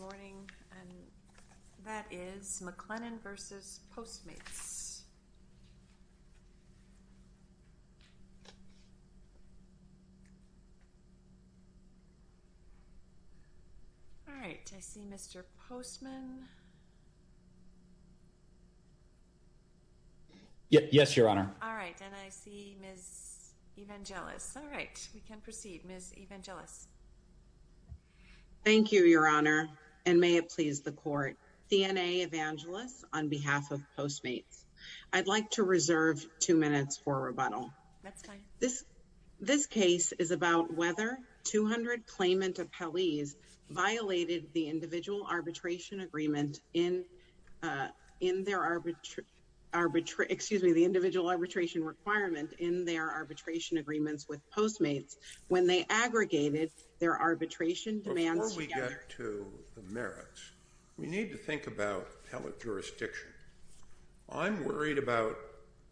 All right, I see Mr. Postman. Yes, Your Honor. All right, and I see Ms. Evangelos. All right, we can proceed. Ms. Evangelos. Thank you, Your Honor, and may it please the court. D.N.A. Evangelos on behalf of Postmates. I'd like to reserve two minutes for rebuttal. That's fine. This case is about whether 200 claimant appellees violated the individual arbitration requirement in their arbitration agreements with Postmates when they aggregated their arbitration demands together. Before we get to the merits, we need to think about appellate jurisdiction. I'm worried about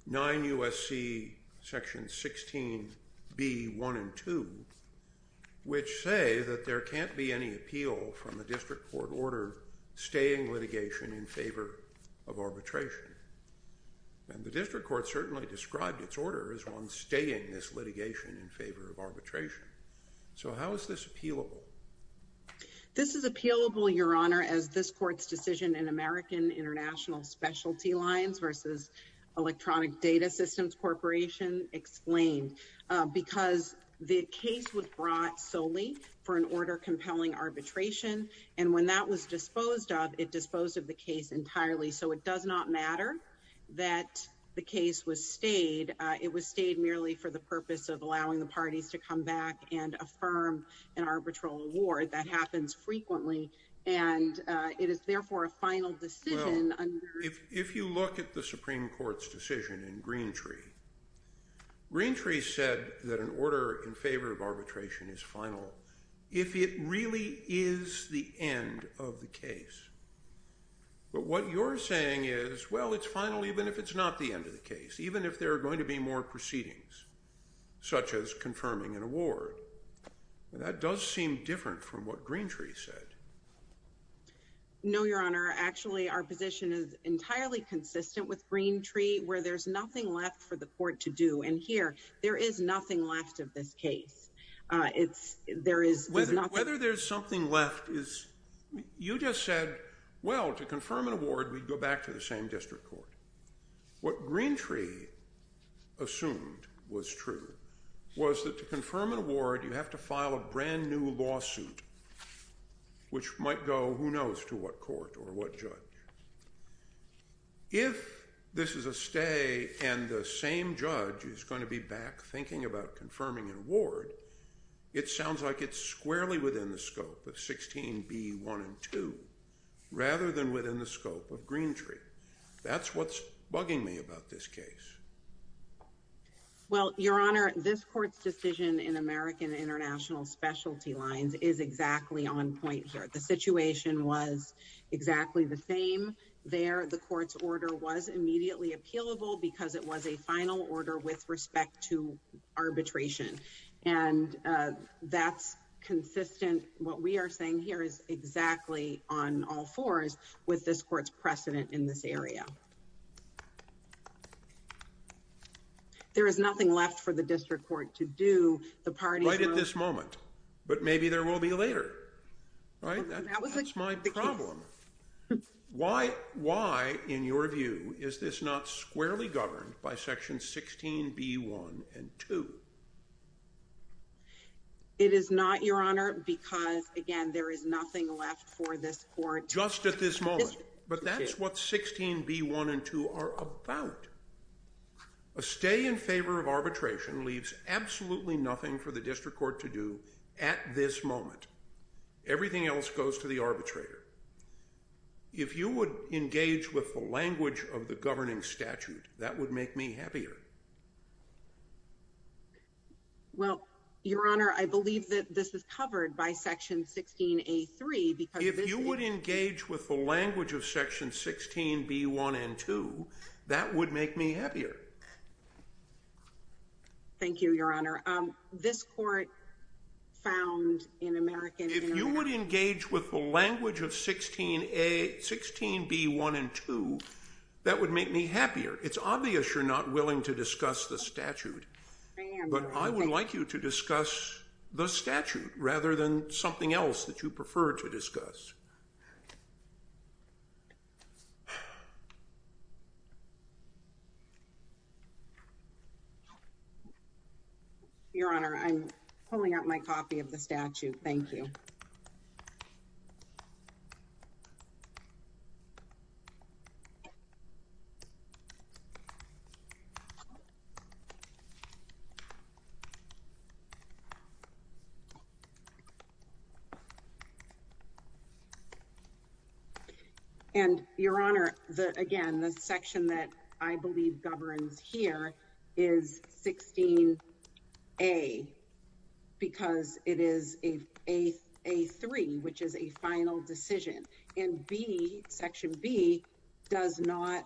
9 U.S.C. section 16b1 and 2, which say that there can't be any appeal from the district court order staying litigation in favor of arbitration. And the district court certainly described its order as one staying this litigation in favor of arbitration. So how is this appealable? This is appealable, Your Honor, as this court's decision in American International Specialty Lines versus Electronic Data Systems Corporation explained, because the case was brought solely for an order compelling arbitration. And when that was disposed of, disposed of the case entirely. So it does not matter that the case was stayed. It was stayed merely for the purpose of allowing the parties to come back and affirm an arbitral award. That happens frequently. And it is therefore a final decision. If you look at the Supreme Court's decision in Greentree, Greentree said that an order in favor of arbitration is final. If it really is the end of the case. But what you're saying is, well, it's final even if it's not the end of the case, even if there are going to be more proceedings, such as confirming an award. That does seem different from what Greentree said. No, Your Honor. Actually, our position is entirely consistent with Greentree, where there's nothing left for the court to do. And here, there is nothing left of this case. Whether there's something left is, you just said, well, to confirm an award, we'd go back to the same district court. What Greentree assumed was true was that to confirm an award, you have to file a brand new lawsuit, which might go, who knows, to what court or what judge. If this is a stay and the same judge is going to be back thinking about confirming an award, it sounds like it's squarely within the scope of 16B1 and 2, rather than within the scope of Greentree. That's what's bugging me about this case. Well, Your Honor, this court's decision in American International Specialty Lines is exactly on point here. The situation was exactly the same there. The court's order was immediately appealable because it was a final order with respect to arbitration. And that's consistent, what we are saying here, is exactly on all fours with this court's precedent in this area. There is nothing left for the district court to do. The parties... But maybe there will be later, right? That's my problem. Why, why, in your view, is this not squarely governed by section 16B1 and 2? It is not, Your Honor, because, again, there is nothing left for this court... Just at this moment. But that's what 16B1 and 2 are about. A stay in favor of arbitration leaves absolutely nothing for the district court to do at this moment. Everything else goes to the arbitrator. If you would engage with the language of the governing statute, that would make me happier. Well, Your Honor, I believe that this is covered by section 16A3 because... If you would engage with the language of section 16B1 and 2, that would make me happier. Thank you, Your Honor. This court found in American... If you would engage with the language of 16B1 and 2, that would make me happier. It's obvious you're not willing to discuss the statute. But I would like you to discuss the statute rather than something else that you prefer to discuss. Your Honor, I'm pulling out my copy of the statute. Thank you. And, Your Honor, again, the section that I believe governs here is 16A because it is A3, which is a final decision. And B, section B, does not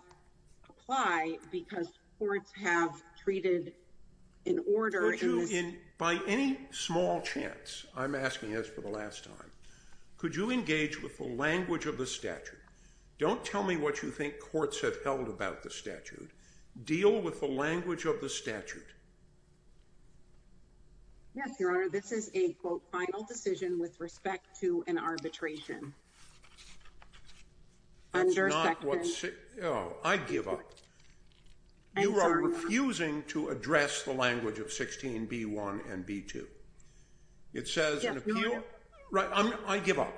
apply because courts have treated in order in this... By any small chance, I'm asking this for the last time, could you engage with the language of the statute? Don't tell me what you think courts have held about the statute. Deal with the language of the statute. Yes, Your Honor, this is a, quote, final decision with respect to an arbitration. That's not what... Oh, I give up. You are refusing to address the language of 16B1 and B2. It says in the appeal... I give up.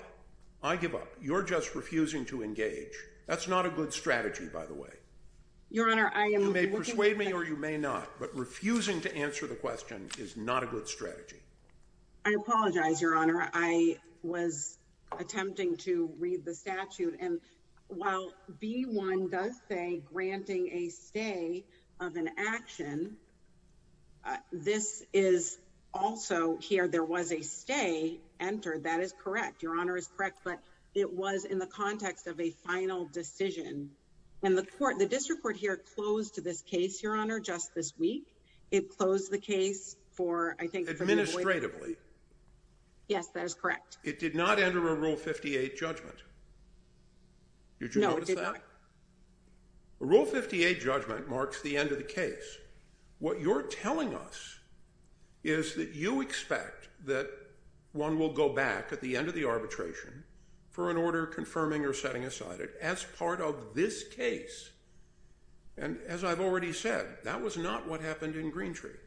I give up. You're just refusing to engage. That's not a good strategy, by the way. You may persuade me or you may not, but refusing to engage the question is not a good strategy. I apologize, Your Honor. I was attempting to read the statute and while B1 does say granting a stay of an action, this is also here. There was a stay entered. That is correct. Your Honor is correct, but it was in the context of a final decision. And the court, the district court here closed to this case, Your Honor, just this week. It closed the case for, I think... Administratively. Yes, that is correct. It did not enter a Rule 58 judgment. Did you notice that? No, it did not. Rule 58 judgment marks the end of the case. What you're telling us is that you expect that one will go back at the end of the arbitration for an order confirming or setting aside as part of this case. And as I've already said, that was not what happened in Greentree.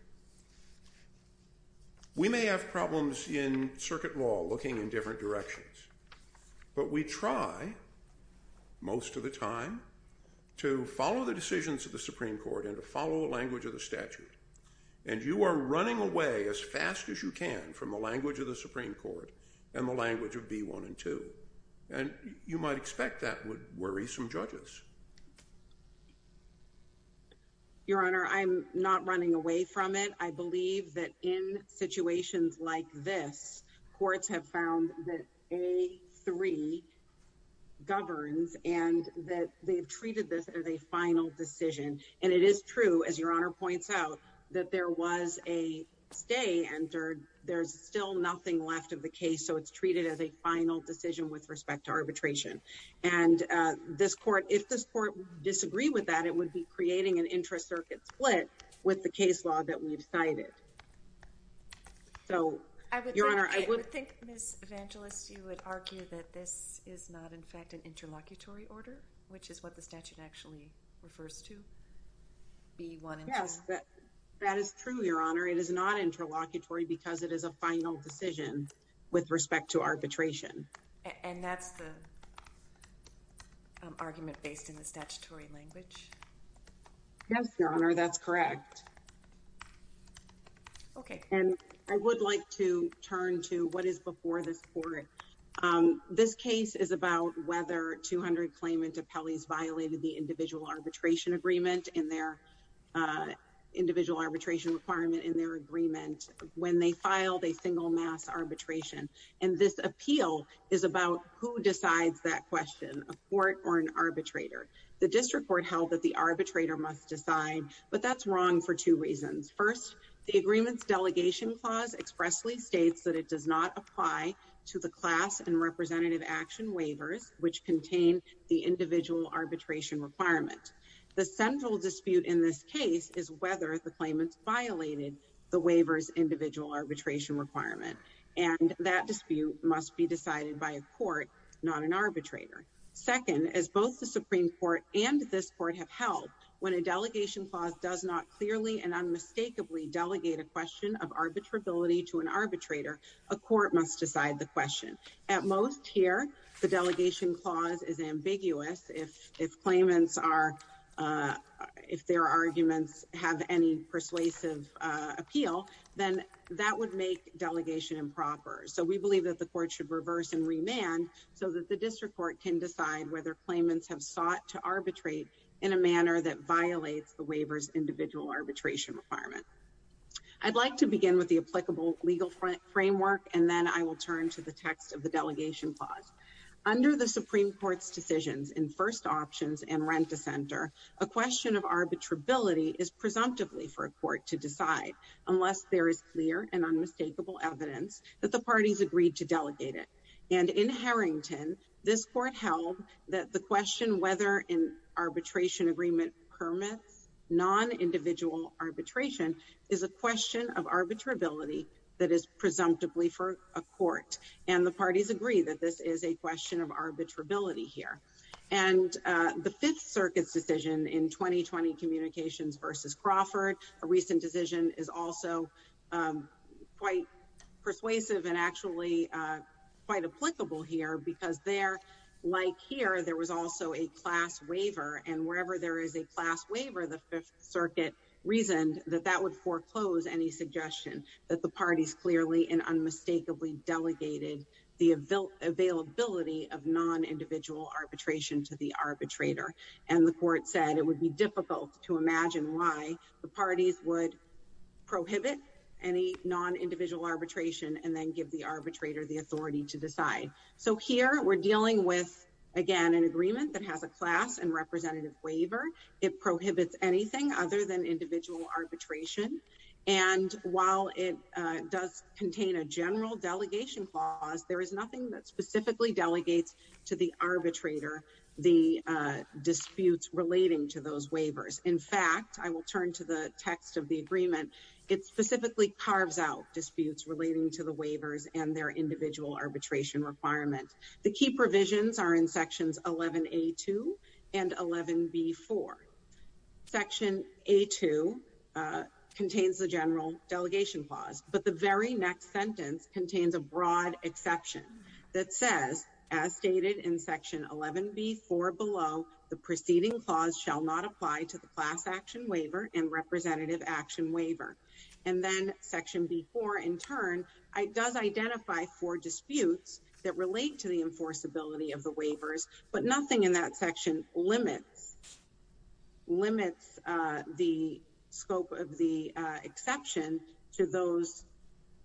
We may have problems in circuit law looking in different directions, but we try most of the time to follow the decisions of the Supreme Court and to follow the language of the statute. And you are running away as fast as you can from the language of the Supreme Court and the language of B-1 and 2. And you might expect that would worry some judges. Your Honor, I'm not running away from it. I believe that in situations like this, courts have found that A-3 governs and that they've treated this as a final decision. And it is true, as Your Honor points out, that there was a stay and there's still nothing left of the case. So, it's treated as a final decision with respect to arbitration. And if this Court would disagree with that, it would be creating an intra-circuit split with the case law that we've cited. So, Your Honor, I would— I would think, Ms. Evangelist, you would argue that this is not, in fact, an interlocutory order, which is what the statute actually refers to, B-1 and 2. Yes, that is true, Your Honor. It is not interlocutory because it is a final decision with respect to arbitration. And that's the argument based in the statutory language? Yes, Your Honor, that's correct. Okay. And I would like to turn to what is before this Court. This case is about whether 200 claimants violated the individual arbitration agreement in their—individual arbitration requirement in their agreement when they filed a single mass arbitration. And this appeal is about who decides that question, a court or an arbitrator. The District Court held that the arbitrator must decide, but that's wrong for two reasons. First, the agreement's delegation clause expressly states that it does not apply to the class and representative action waivers which contain the individual arbitration requirement. The central dispute in this case is whether the claimants violated the waiver's individual arbitration requirement, and that dispute must be decided by a court, not an arbitrator. Second, as both the Supreme Court and this Court have held, when a delegation clause does not clearly and unmistakably delegate a question of arbitrability to an arbitrator, a court must decide the question. At most here, the delegation clause is ambiguous. If claimants are—if their arguments have any persuasive appeal, then that would make delegation improper. So we believe that the Court should reverse and remand so that the District Court can decide whether claimants have sought to arbitrate in a manner that violates the waiver's individual arbitration requirement. I'd like to begin with the applicable legal framework, and then I will turn to the text of the delegation clause. Under the Supreme Court's decisions in first options and rent-a-center, a question of arbitrability is presumptively for a court to decide unless there is clear and unmistakable evidence that the parties agreed to delegate it. And in Harrington, this Court held that the question whether an arbitration agreement permits non-individual arbitration is a question of arbitrability that is presumptively for a court. And the parties agree that this is a question of arbitrability here. And the Fifth Circuit's decision in 2020 Communications v. Crawford, a recent decision, is also quite persuasive and actually quite applicable here because there, like here, there was also a class waiver, and wherever there is a class waiver, the Fifth Circuit reasoned that that would foreclose any suggestion that the parties clearly and unmistakably delegated the availability of non-individual arbitration to the arbitrator. And the Court said it would be difficult to imagine why the parties would prohibit any non-individual arbitration and then give the arbitrator the authority to decide. So here, we're dealing with, again, an agreement that has a class and representative waiver. It prohibits anything other than individual arbitration. And while it does contain a general delegation clause, there is nothing that specifically delegates to the arbitrator the disputes relating to those waivers. In fact, I will turn to the text of the agreement. It The key provisions are in Sections 11A2 and 11B4. Section A2 contains the general delegation clause, but the very next sentence contains a broad exception that says, as stated in Section 11B4 below, the preceding clause shall not apply to the class action waiver and representative action to the enforceability of the waivers, but nothing in that section limits the scope of the exception to those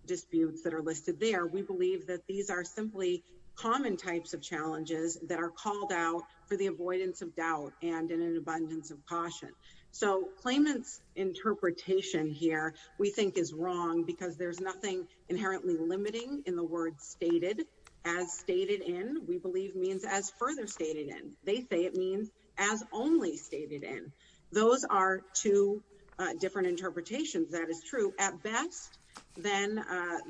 disputes that are listed there. We believe that these are simply common types of challenges that are called out for the avoidance of doubt and in an abundance of caution. So claimant's interpretation here, we think, is wrong because there's nothing inherently limiting in the word stated. As stated in, we believe, means as further stated in. They say it means as only stated in. Those are two different interpretations. That is true. At best, then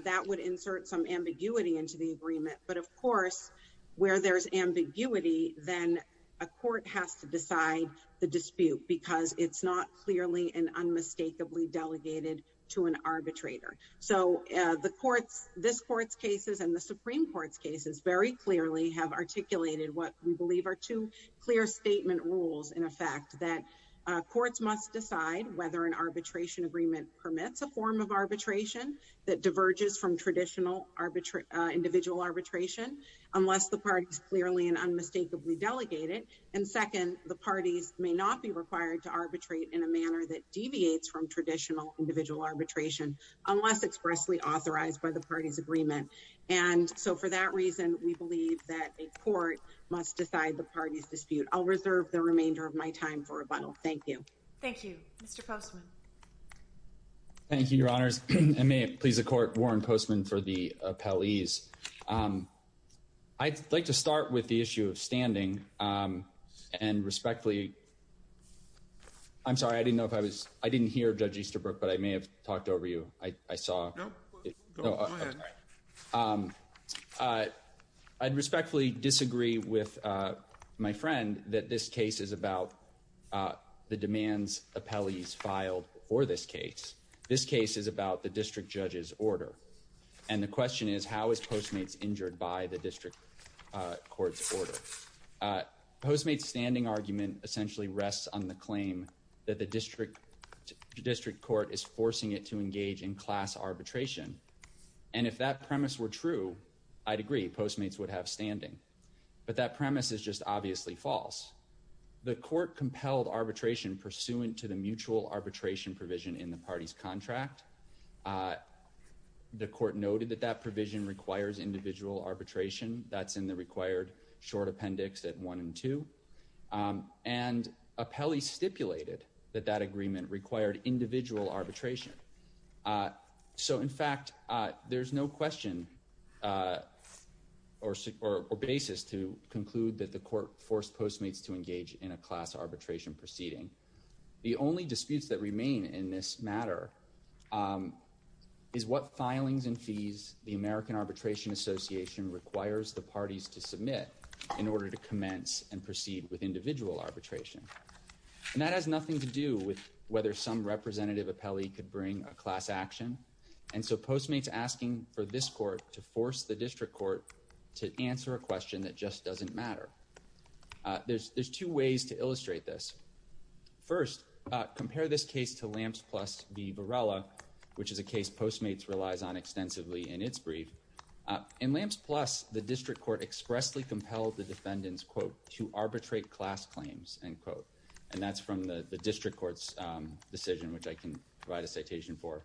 that would insert some ambiguity into the agreement. But of course, where there's ambiguity, then a court has to decide the dispute because it's not clearly and unmistakably delegated to an arbitrator. So the courts, this court's cases and the Supreme Court's cases, very clearly have articulated what we believe are two clear statement rules, in effect, that courts must decide whether an arbitration agreement permits a form of arbitration that diverges from traditional individual arbitration unless the parties clearly and unmistakably delegate it. And second, the parties may not be required to arbitrate in a manner that deviates from traditional individual arbitration unless expressly authorized by the party's agreement. And so for that reason, we believe that a court must decide the party's dispute. I'll reserve the remainder of my time for rebuttal. Thank you. Thank you, Mr. Postman. Thank you, Your Honors. And may it please the Court. I'd respectfully, I'm sorry, I didn't know if I was, I didn't hear Judge Easterbrook, but I may have talked over you. I saw. No, go ahead. I'd respectfully disagree with my friend that this case is about the demands appellees filed for this case. This case is about the district judge's order. And the question is, how is Postmates injured by the district court's order? Postmates' standing argument essentially rests on the claim that the district court is forcing it to engage in class arbitration. And if that premise were true, I'd agree, Postmates would have standing. But that premise is just obviously false. The court compelled arbitration pursuant to the mutual arbitration provision in the party's contract. The court noted that that provision requires individual arbitration. That's in the required short appendix at one and two. And appellee stipulated that that agreement required individual arbitration. So in fact, there's no question or basis to conclude that the court forced Postmates to engage in a class arbitration proceeding. The only disputes that remain in this matter is what filings and fees the American Arbitration Association requires the parties to submit in order to commence and proceed with individual arbitration. And that has nothing to do with whether some representative appellee could bring a class action. And so Postmates asking for this court to force the district court to answer a question that just doesn't matter. There's two ways to illustrate this. First, compare this case to Lamps Plus v. Varela, which is a case Postmates relies on extensively in its brief. In Lamps Plus, the district court expressly compelled the defendants, quote, to arbitrate class claims, end quote. And that's from the district court's decision, which I can provide a citation for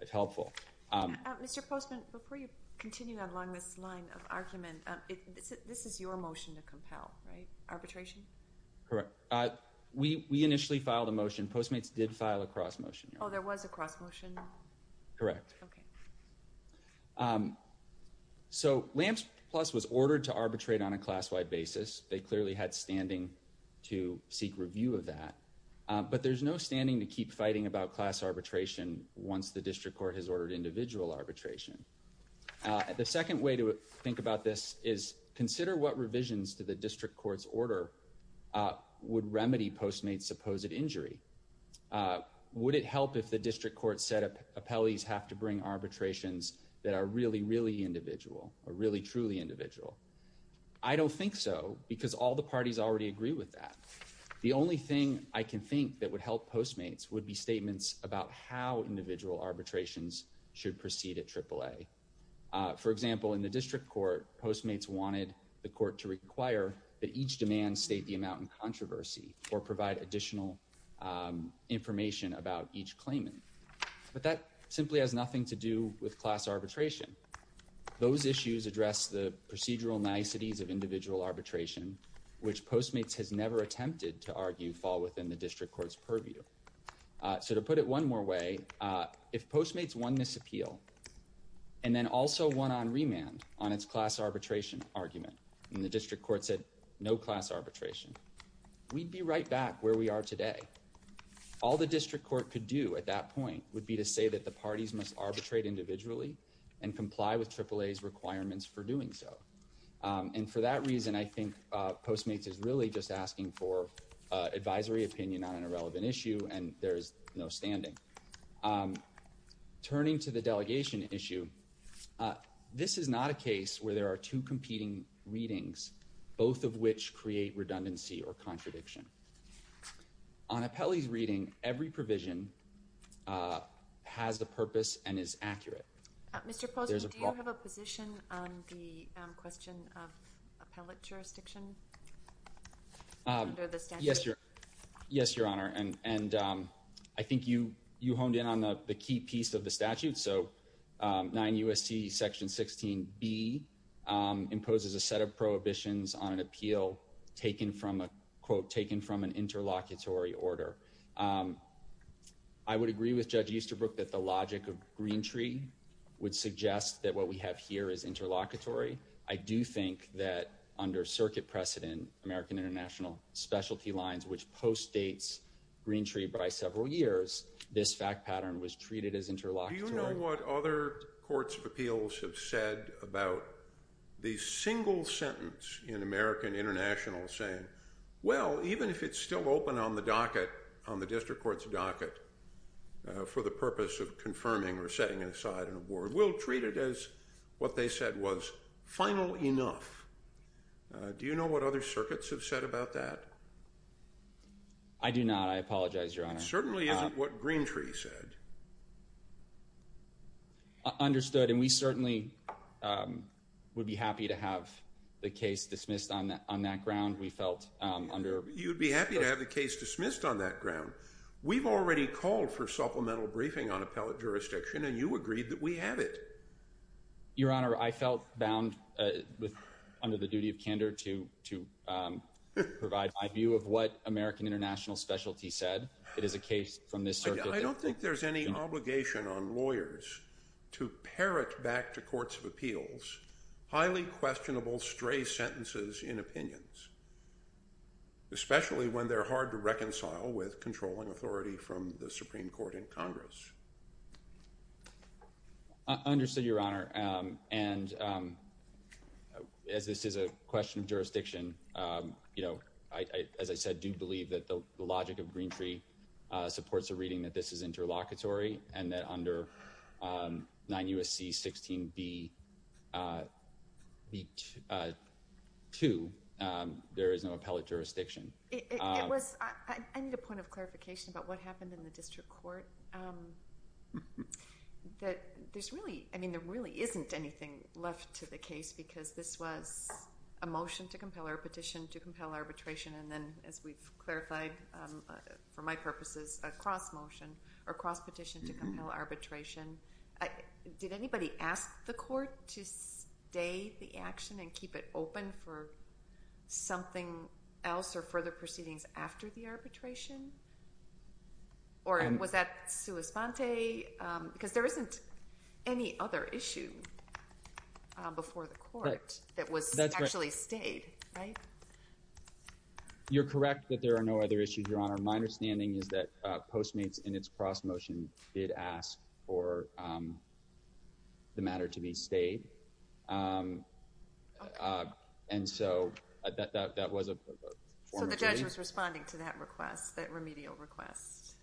if helpful. Mr. Postman, before you continue along this line of argument, this is your motion to compel, right? Arbitration? Correct. We initially filed a motion. Postmates did file a cross motion. Oh, there was a cross motion? Correct. Okay. So Lamps Plus was ordered to arbitrate on a class-wide basis. They clearly had standing to seek review of that. But there's no standing to keep fighting about class arbitration once the district court has ordered individual arbitration. The second way to think about this is consider what revisions to the district court's order would remedy Postmates' supposed injury. Would it help if the district court said appellees have to bring arbitrations that are really, really individual or really, truly individual? I don't think so because all the parties already agree with that. The only thing I can think that would help Postmates would be statements about how individual arbitrations should proceed at AAA. For example, in the district court, Postmates wanted the court to require that each demand state the amount in controversy or provide additional information about each claimant. But that simply has nothing to do with class arbitration. Those issues address the procedural niceties of individual arbitration, which Postmates has never attempted to argue fall within the district court's purview. So to put it one more way, if Postmates won this appeal and then also won on remand on its class arbitration argument and the district court said no class arbitration, we'd be right back where we are today. All the district court could do at that point would be to say that the parties must arbitrate individually and comply with AAA's requirements for doing so. And for that reason, I think Postmates is really just asking for advisory opinion on an irrelevant issue, and there's no standing. Turning to the delegation issue, this is not a case where there are two competing readings, both of which create redundancy or contradiction. On Appelli's reading, every provision has a purpose and is accurate. Mr. Postmates, do you have a position on the question of appellate jurisdiction under the statute? Yes, Your Honor. And I think you honed in on the key piece of the statute. So 9 U.S.C. Section 16B imposes a set of prohibitions on an appeal taken from an interlocutory order. I would agree with Judge Easterbrook that the logic of Green Tree would suggest that what we have here is interlocutory. I do think that under circuit precedent, American International specialty lines, which postdates Green Tree by several years, this fact pattern was treated as interlocutory. Do you know what other courts of appeals have said about the single sentence in American International saying, well, even if it's still open on the docket, on the district court's docket, for the purpose of confirming or setting it aside on a board, we'll treat it as what they said was final enough. Do you know what other circuits have said about that? I do not. I apologize, Your Honor. It certainly isn't what Green Tree said. Understood. And we certainly would be happy to have the case dismissed on that ground. We felt under. You'd be happy to have the case dismissed on that ground. We've already called for supplemental briefing on appellate jurisdiction, and you agreed that we have it. Your Honor, I felt bound under the duty of candor to provide my view of what American International specialty said. It is a case from this circuit. I don't think there's any obligation on lawyers to parrot back to courts of appeals highly questionable stray sentences in opinions, especially when they're hard to reconcile with controlling authority from the Supreme Court in Congress. I understood, Your Honor. And as this is a question of jurisdiction, you know, I, as I said, do believe that the logic of Green Tree supports a reading that this is interlocutory and that under 9 U.S.C. 16 B. 2, there is no appellate jurisdiction. It was, I need a point of clarification about what happened in the district court. That there's really, I mean, there really isn't anything left to the case because this was a motion to compel or a petition to compel arbitration. And then as we've clarified, for my purposes, a cross motion or cross petition to compel arbitration. Did anybody ask the court to stay the action and keep it open for something else or further proceedings after the arbitration? Or was that sua sponte? Because there isn't any other issue before the court that was. Right. You're correct that there are no other issues, Your Honor. My understanding is that Postmates in its cross motion did ask for the matter to be stayed. And so that was a. So the judge was responding to that request, that remedial request.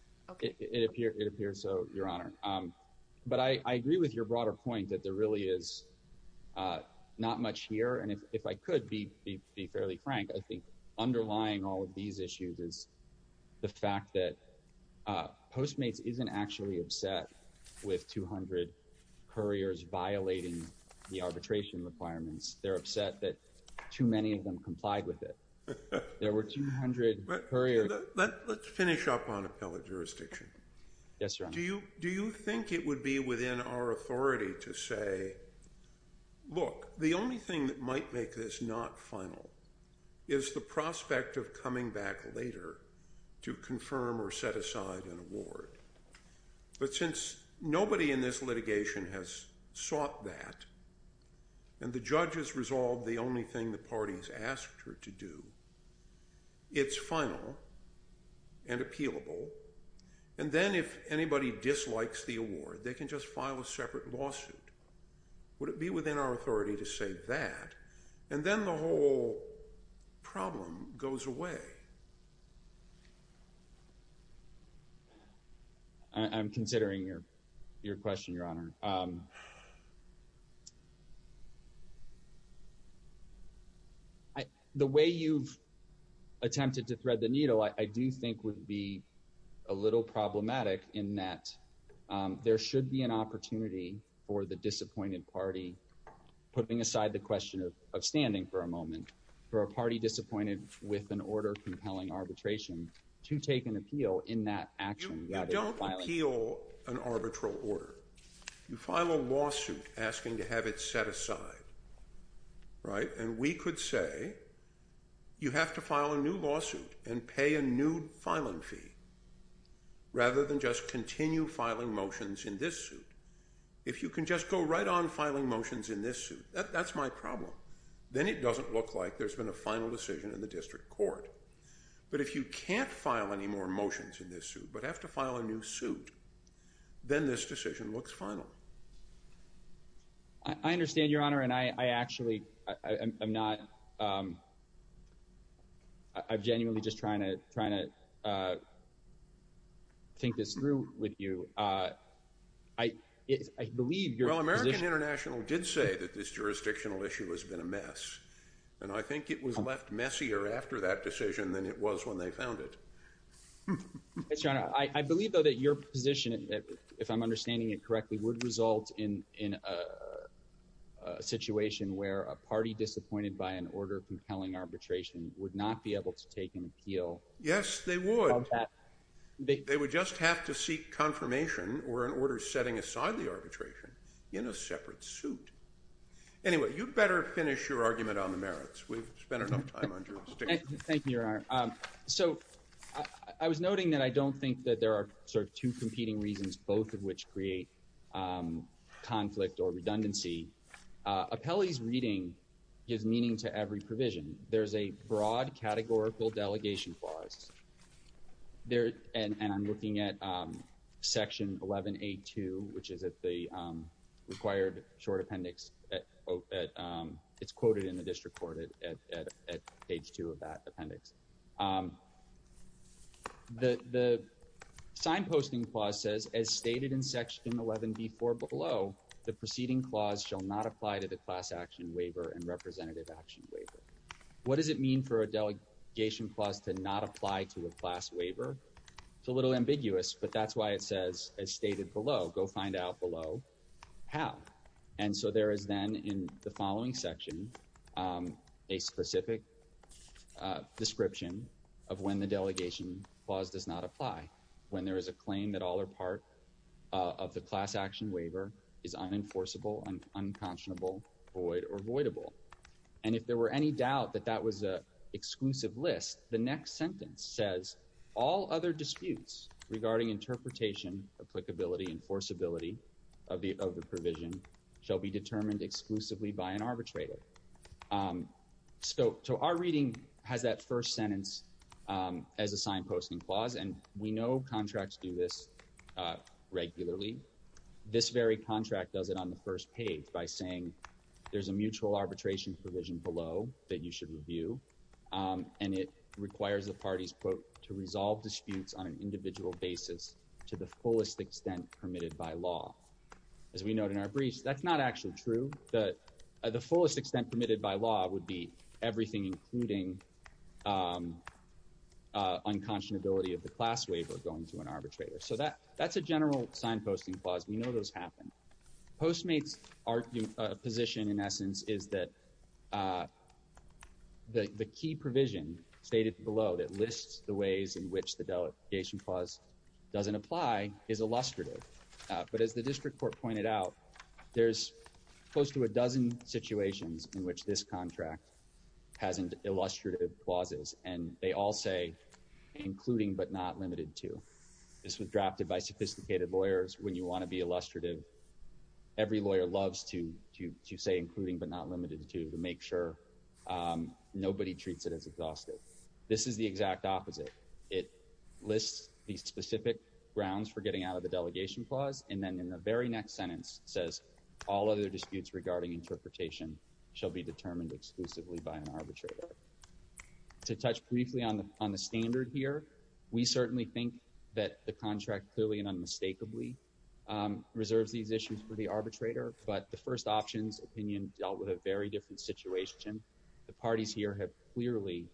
It appears so, Your Honor. But I agree with your broader point that there really is not much here. And if I could be fairly frank, I think underlying all of these issues is the fact that Postmates isn't actually upset with 200 couriers violating the arbitration requirements. They're upset that too many of them complied with it. There were 200 couriers. Let's finish up on appellate jurisdiction. Yes, Your Honor. Do you think it would be within our Look, the only thing that might make this not final is the prospect of coming back later to confirm or set aside an award. But since nobody in this litigation has sought that and the judge has resolved the only thing the party has asked her to do, it's final and appealable. And then if anybody dislikes the award, they can just file a separate lawsuit. Would it be within our authority to say that? And then the whole problem goes away. I'm considering your question, Your Honor. The way you've attempted to thread the needle, I do think would be a little problematic in that there should be an opportunity for the disappointed party, putting aside the question of standing for a moment, for a party disappointed with an order compelling arbitration to take an appeal in that action. You don't appeal an arbitral order. You file a lawsuit asking to have it set aside, right? And we could say you have to file a new lawsuit and pay a new filing fee rather than just continue filing motions in this suit. If you can just go right on filing motions in this suit, that's my problem. Then it doesn't look like there's been a final decision in the district court. But if you can't file any more motions in this suit but have to file a new suit, then this decision looks final. I understand, Your Honor, and I actually, I'm not, I'm genuinely just trying to think this through with you. I believe your position— Well, American International did say that this jurisdictional issue has been a mess, and I think it was left messier after that decision than it was when they found it. But, Your Honor, I believe, though, that your position, if I'm understanding it correctly, would result in a situation where a party disappointed by an order compelling arbitration would not be able to take an appeal. Yes, they would. They would just have to seek confirmation or an order setting aside the arbitration in a separate suit. Anyway, you'd better finish your argument on the merits. We've spent enough time on jurisdiction. Thank you, Your Honor. So I was noting that I don't think that there are sort of two competing reasons, both of which create conflict or redundancy. Appellee's reading gives meaning to every provision. There's a broad categorical delegation clause, and I'm looking at section 11A2, which is at the required short appendix. It's quoted in the district court at page 2 of that appendix. The signposting clause says, as stated in section 11B4 below, the preceding clause shall not apply to the class action waiver and representative action waiver. What does it mean for a delegation clause to not apply to a class waiver? It's a little ambiguous, but that's why it says, as stated below, go find out below how. And so there is then, in the following section, a specific description of when the delegation clause does not apply, when there is a claim that all or part of the class action waiver is unenforceable, unconscionable, void, or voidable. And if there were any doubt that that was an exclusive list, the next sentence says, all other disputes regarding interpretation, applicability, enforceability of the provision shall be determined exclusively by an arbitrator. So our reading has that first sentence as a signposting clause, and we know contracts do this regularly. This very contract does it on the first page by saying there's a mutual arbitration provision below that you should review, and it requires the parties, quote, to resolve disputes on an individual basis to the fullest extent permitted by law. As we note in our briefs, that's not actually true. The fullest extent permitted by law would be everything including unconscionability of the class waiver going to an arbitrator. So that's a general signposting clause. We know those happen. Postmates' position, in essence, is that the key provision stated below that lists the ways in which the delegation clause doesn't apply is illustrative. But as the district court pointed out, there's close to a dozen situations in which this contract has illustrative clauses, and they all say including but not limited to. This was drafted by sophisticated lawyers. When you want to be illustrative, every lawyer loves to say including but not limited to to make sure nobody treats it as exhaustive. This is the exact opposite. It lists the specific grounds for getting out of the delegation clause, and then in the very next sentence says all other disputes regarding interpretation shall be determined exclusively by an arbitrator. To touch briefly on the standard here, we certainly think that the contract clearly and unmistakably reserves these issues for the arbitrator, but the first options opinion dealt with a very different situation. The parties here have clearly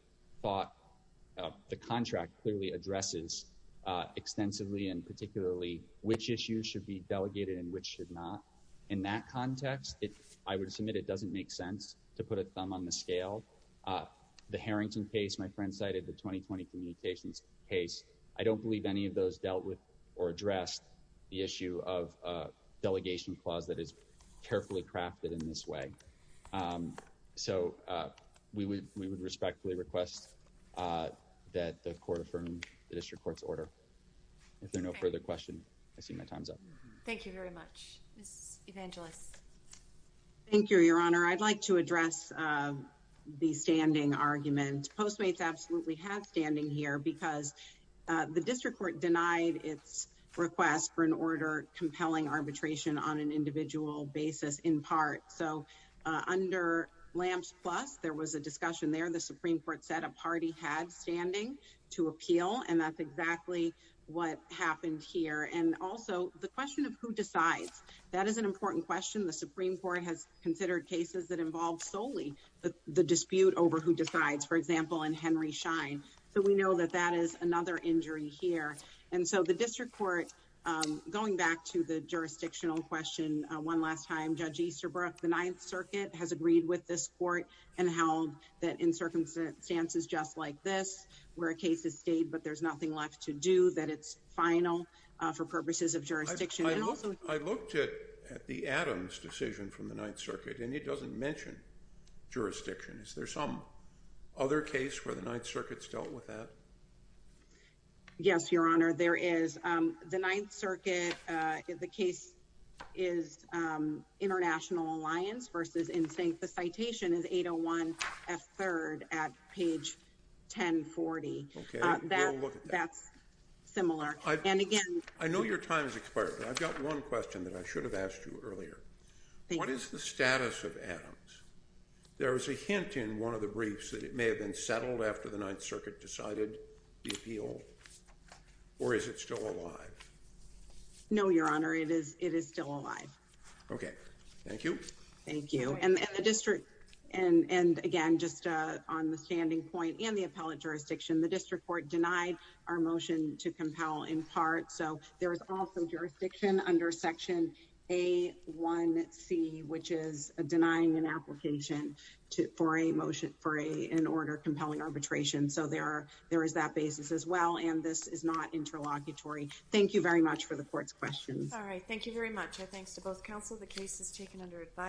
thought the contract clearly addresses extensively and particularly which issues should be delegated and which should not. In that context, I would submit it doesn't make sense to put a thumb on the scale. The Harrington case my friend cited, the 2020 communications case, I don't believe any of those dealt with or addressed the issue of a delegation clause that is carefully crafted in this way. So we would respectfully request that the court affirm the district court's order. If there are no further questions, I see my time's up. Thank you very much. Ms. Evangelos. Thank you, Your Honor. I'd like to address the standing argument. Postmates absolutely have standing here because the district court denied its request for an order compelling arbitration on an individual basis in part. So under Lamps Plus, there was a discussion there. The Supreme Court said a party had standing to appeal and that's exactly what happened here. And also the question of who decides, that is an important question. The Supreme Court has considered cases that involve solely the dispute over who decides, for example, in Henry Schein. So we know that that is another injury here. And so the district court, going back to the jurisdictional question one last time, Judge Easterbrook, the Ninth Circuit has agreed with this court and held that in circumstances just like this, where a case is stayed but there's nothing left to do, that it's final for purposes of jurisdiction. I looked at the Adams decision from the Ninth Circuit and it doesn't mention jurisdiction. Is there some other case where the Ninth Circuit's dealt with that? Yes, Your Honor, there is. The Ninth Circuit, the case is International Alliance versus NSYNC. The citation is 801 F3rd at page 1040. That's similar. I know your time has expired, but I've got one question that I should have asked you earlier. What is the status of Adams? There is a hint in one of the briefs that it was after the Ninth Circuit decided the appeal, or is it still alive? No, Your Honor, it is still alive. Okay, thank you. Thank you. And the district, and again, just on the standing point and the appellate jurisdiction, the district court denied our motion to compel in part, so there is also jurisdiction under section A1C, which is denying an application for a motion for an order compelling arbitration. So there is that basis as well, and this is not interlocutory. Thank you very much for the court's questions. All right, thank you very much. Our thanks to both counsel. The case is taken under advice.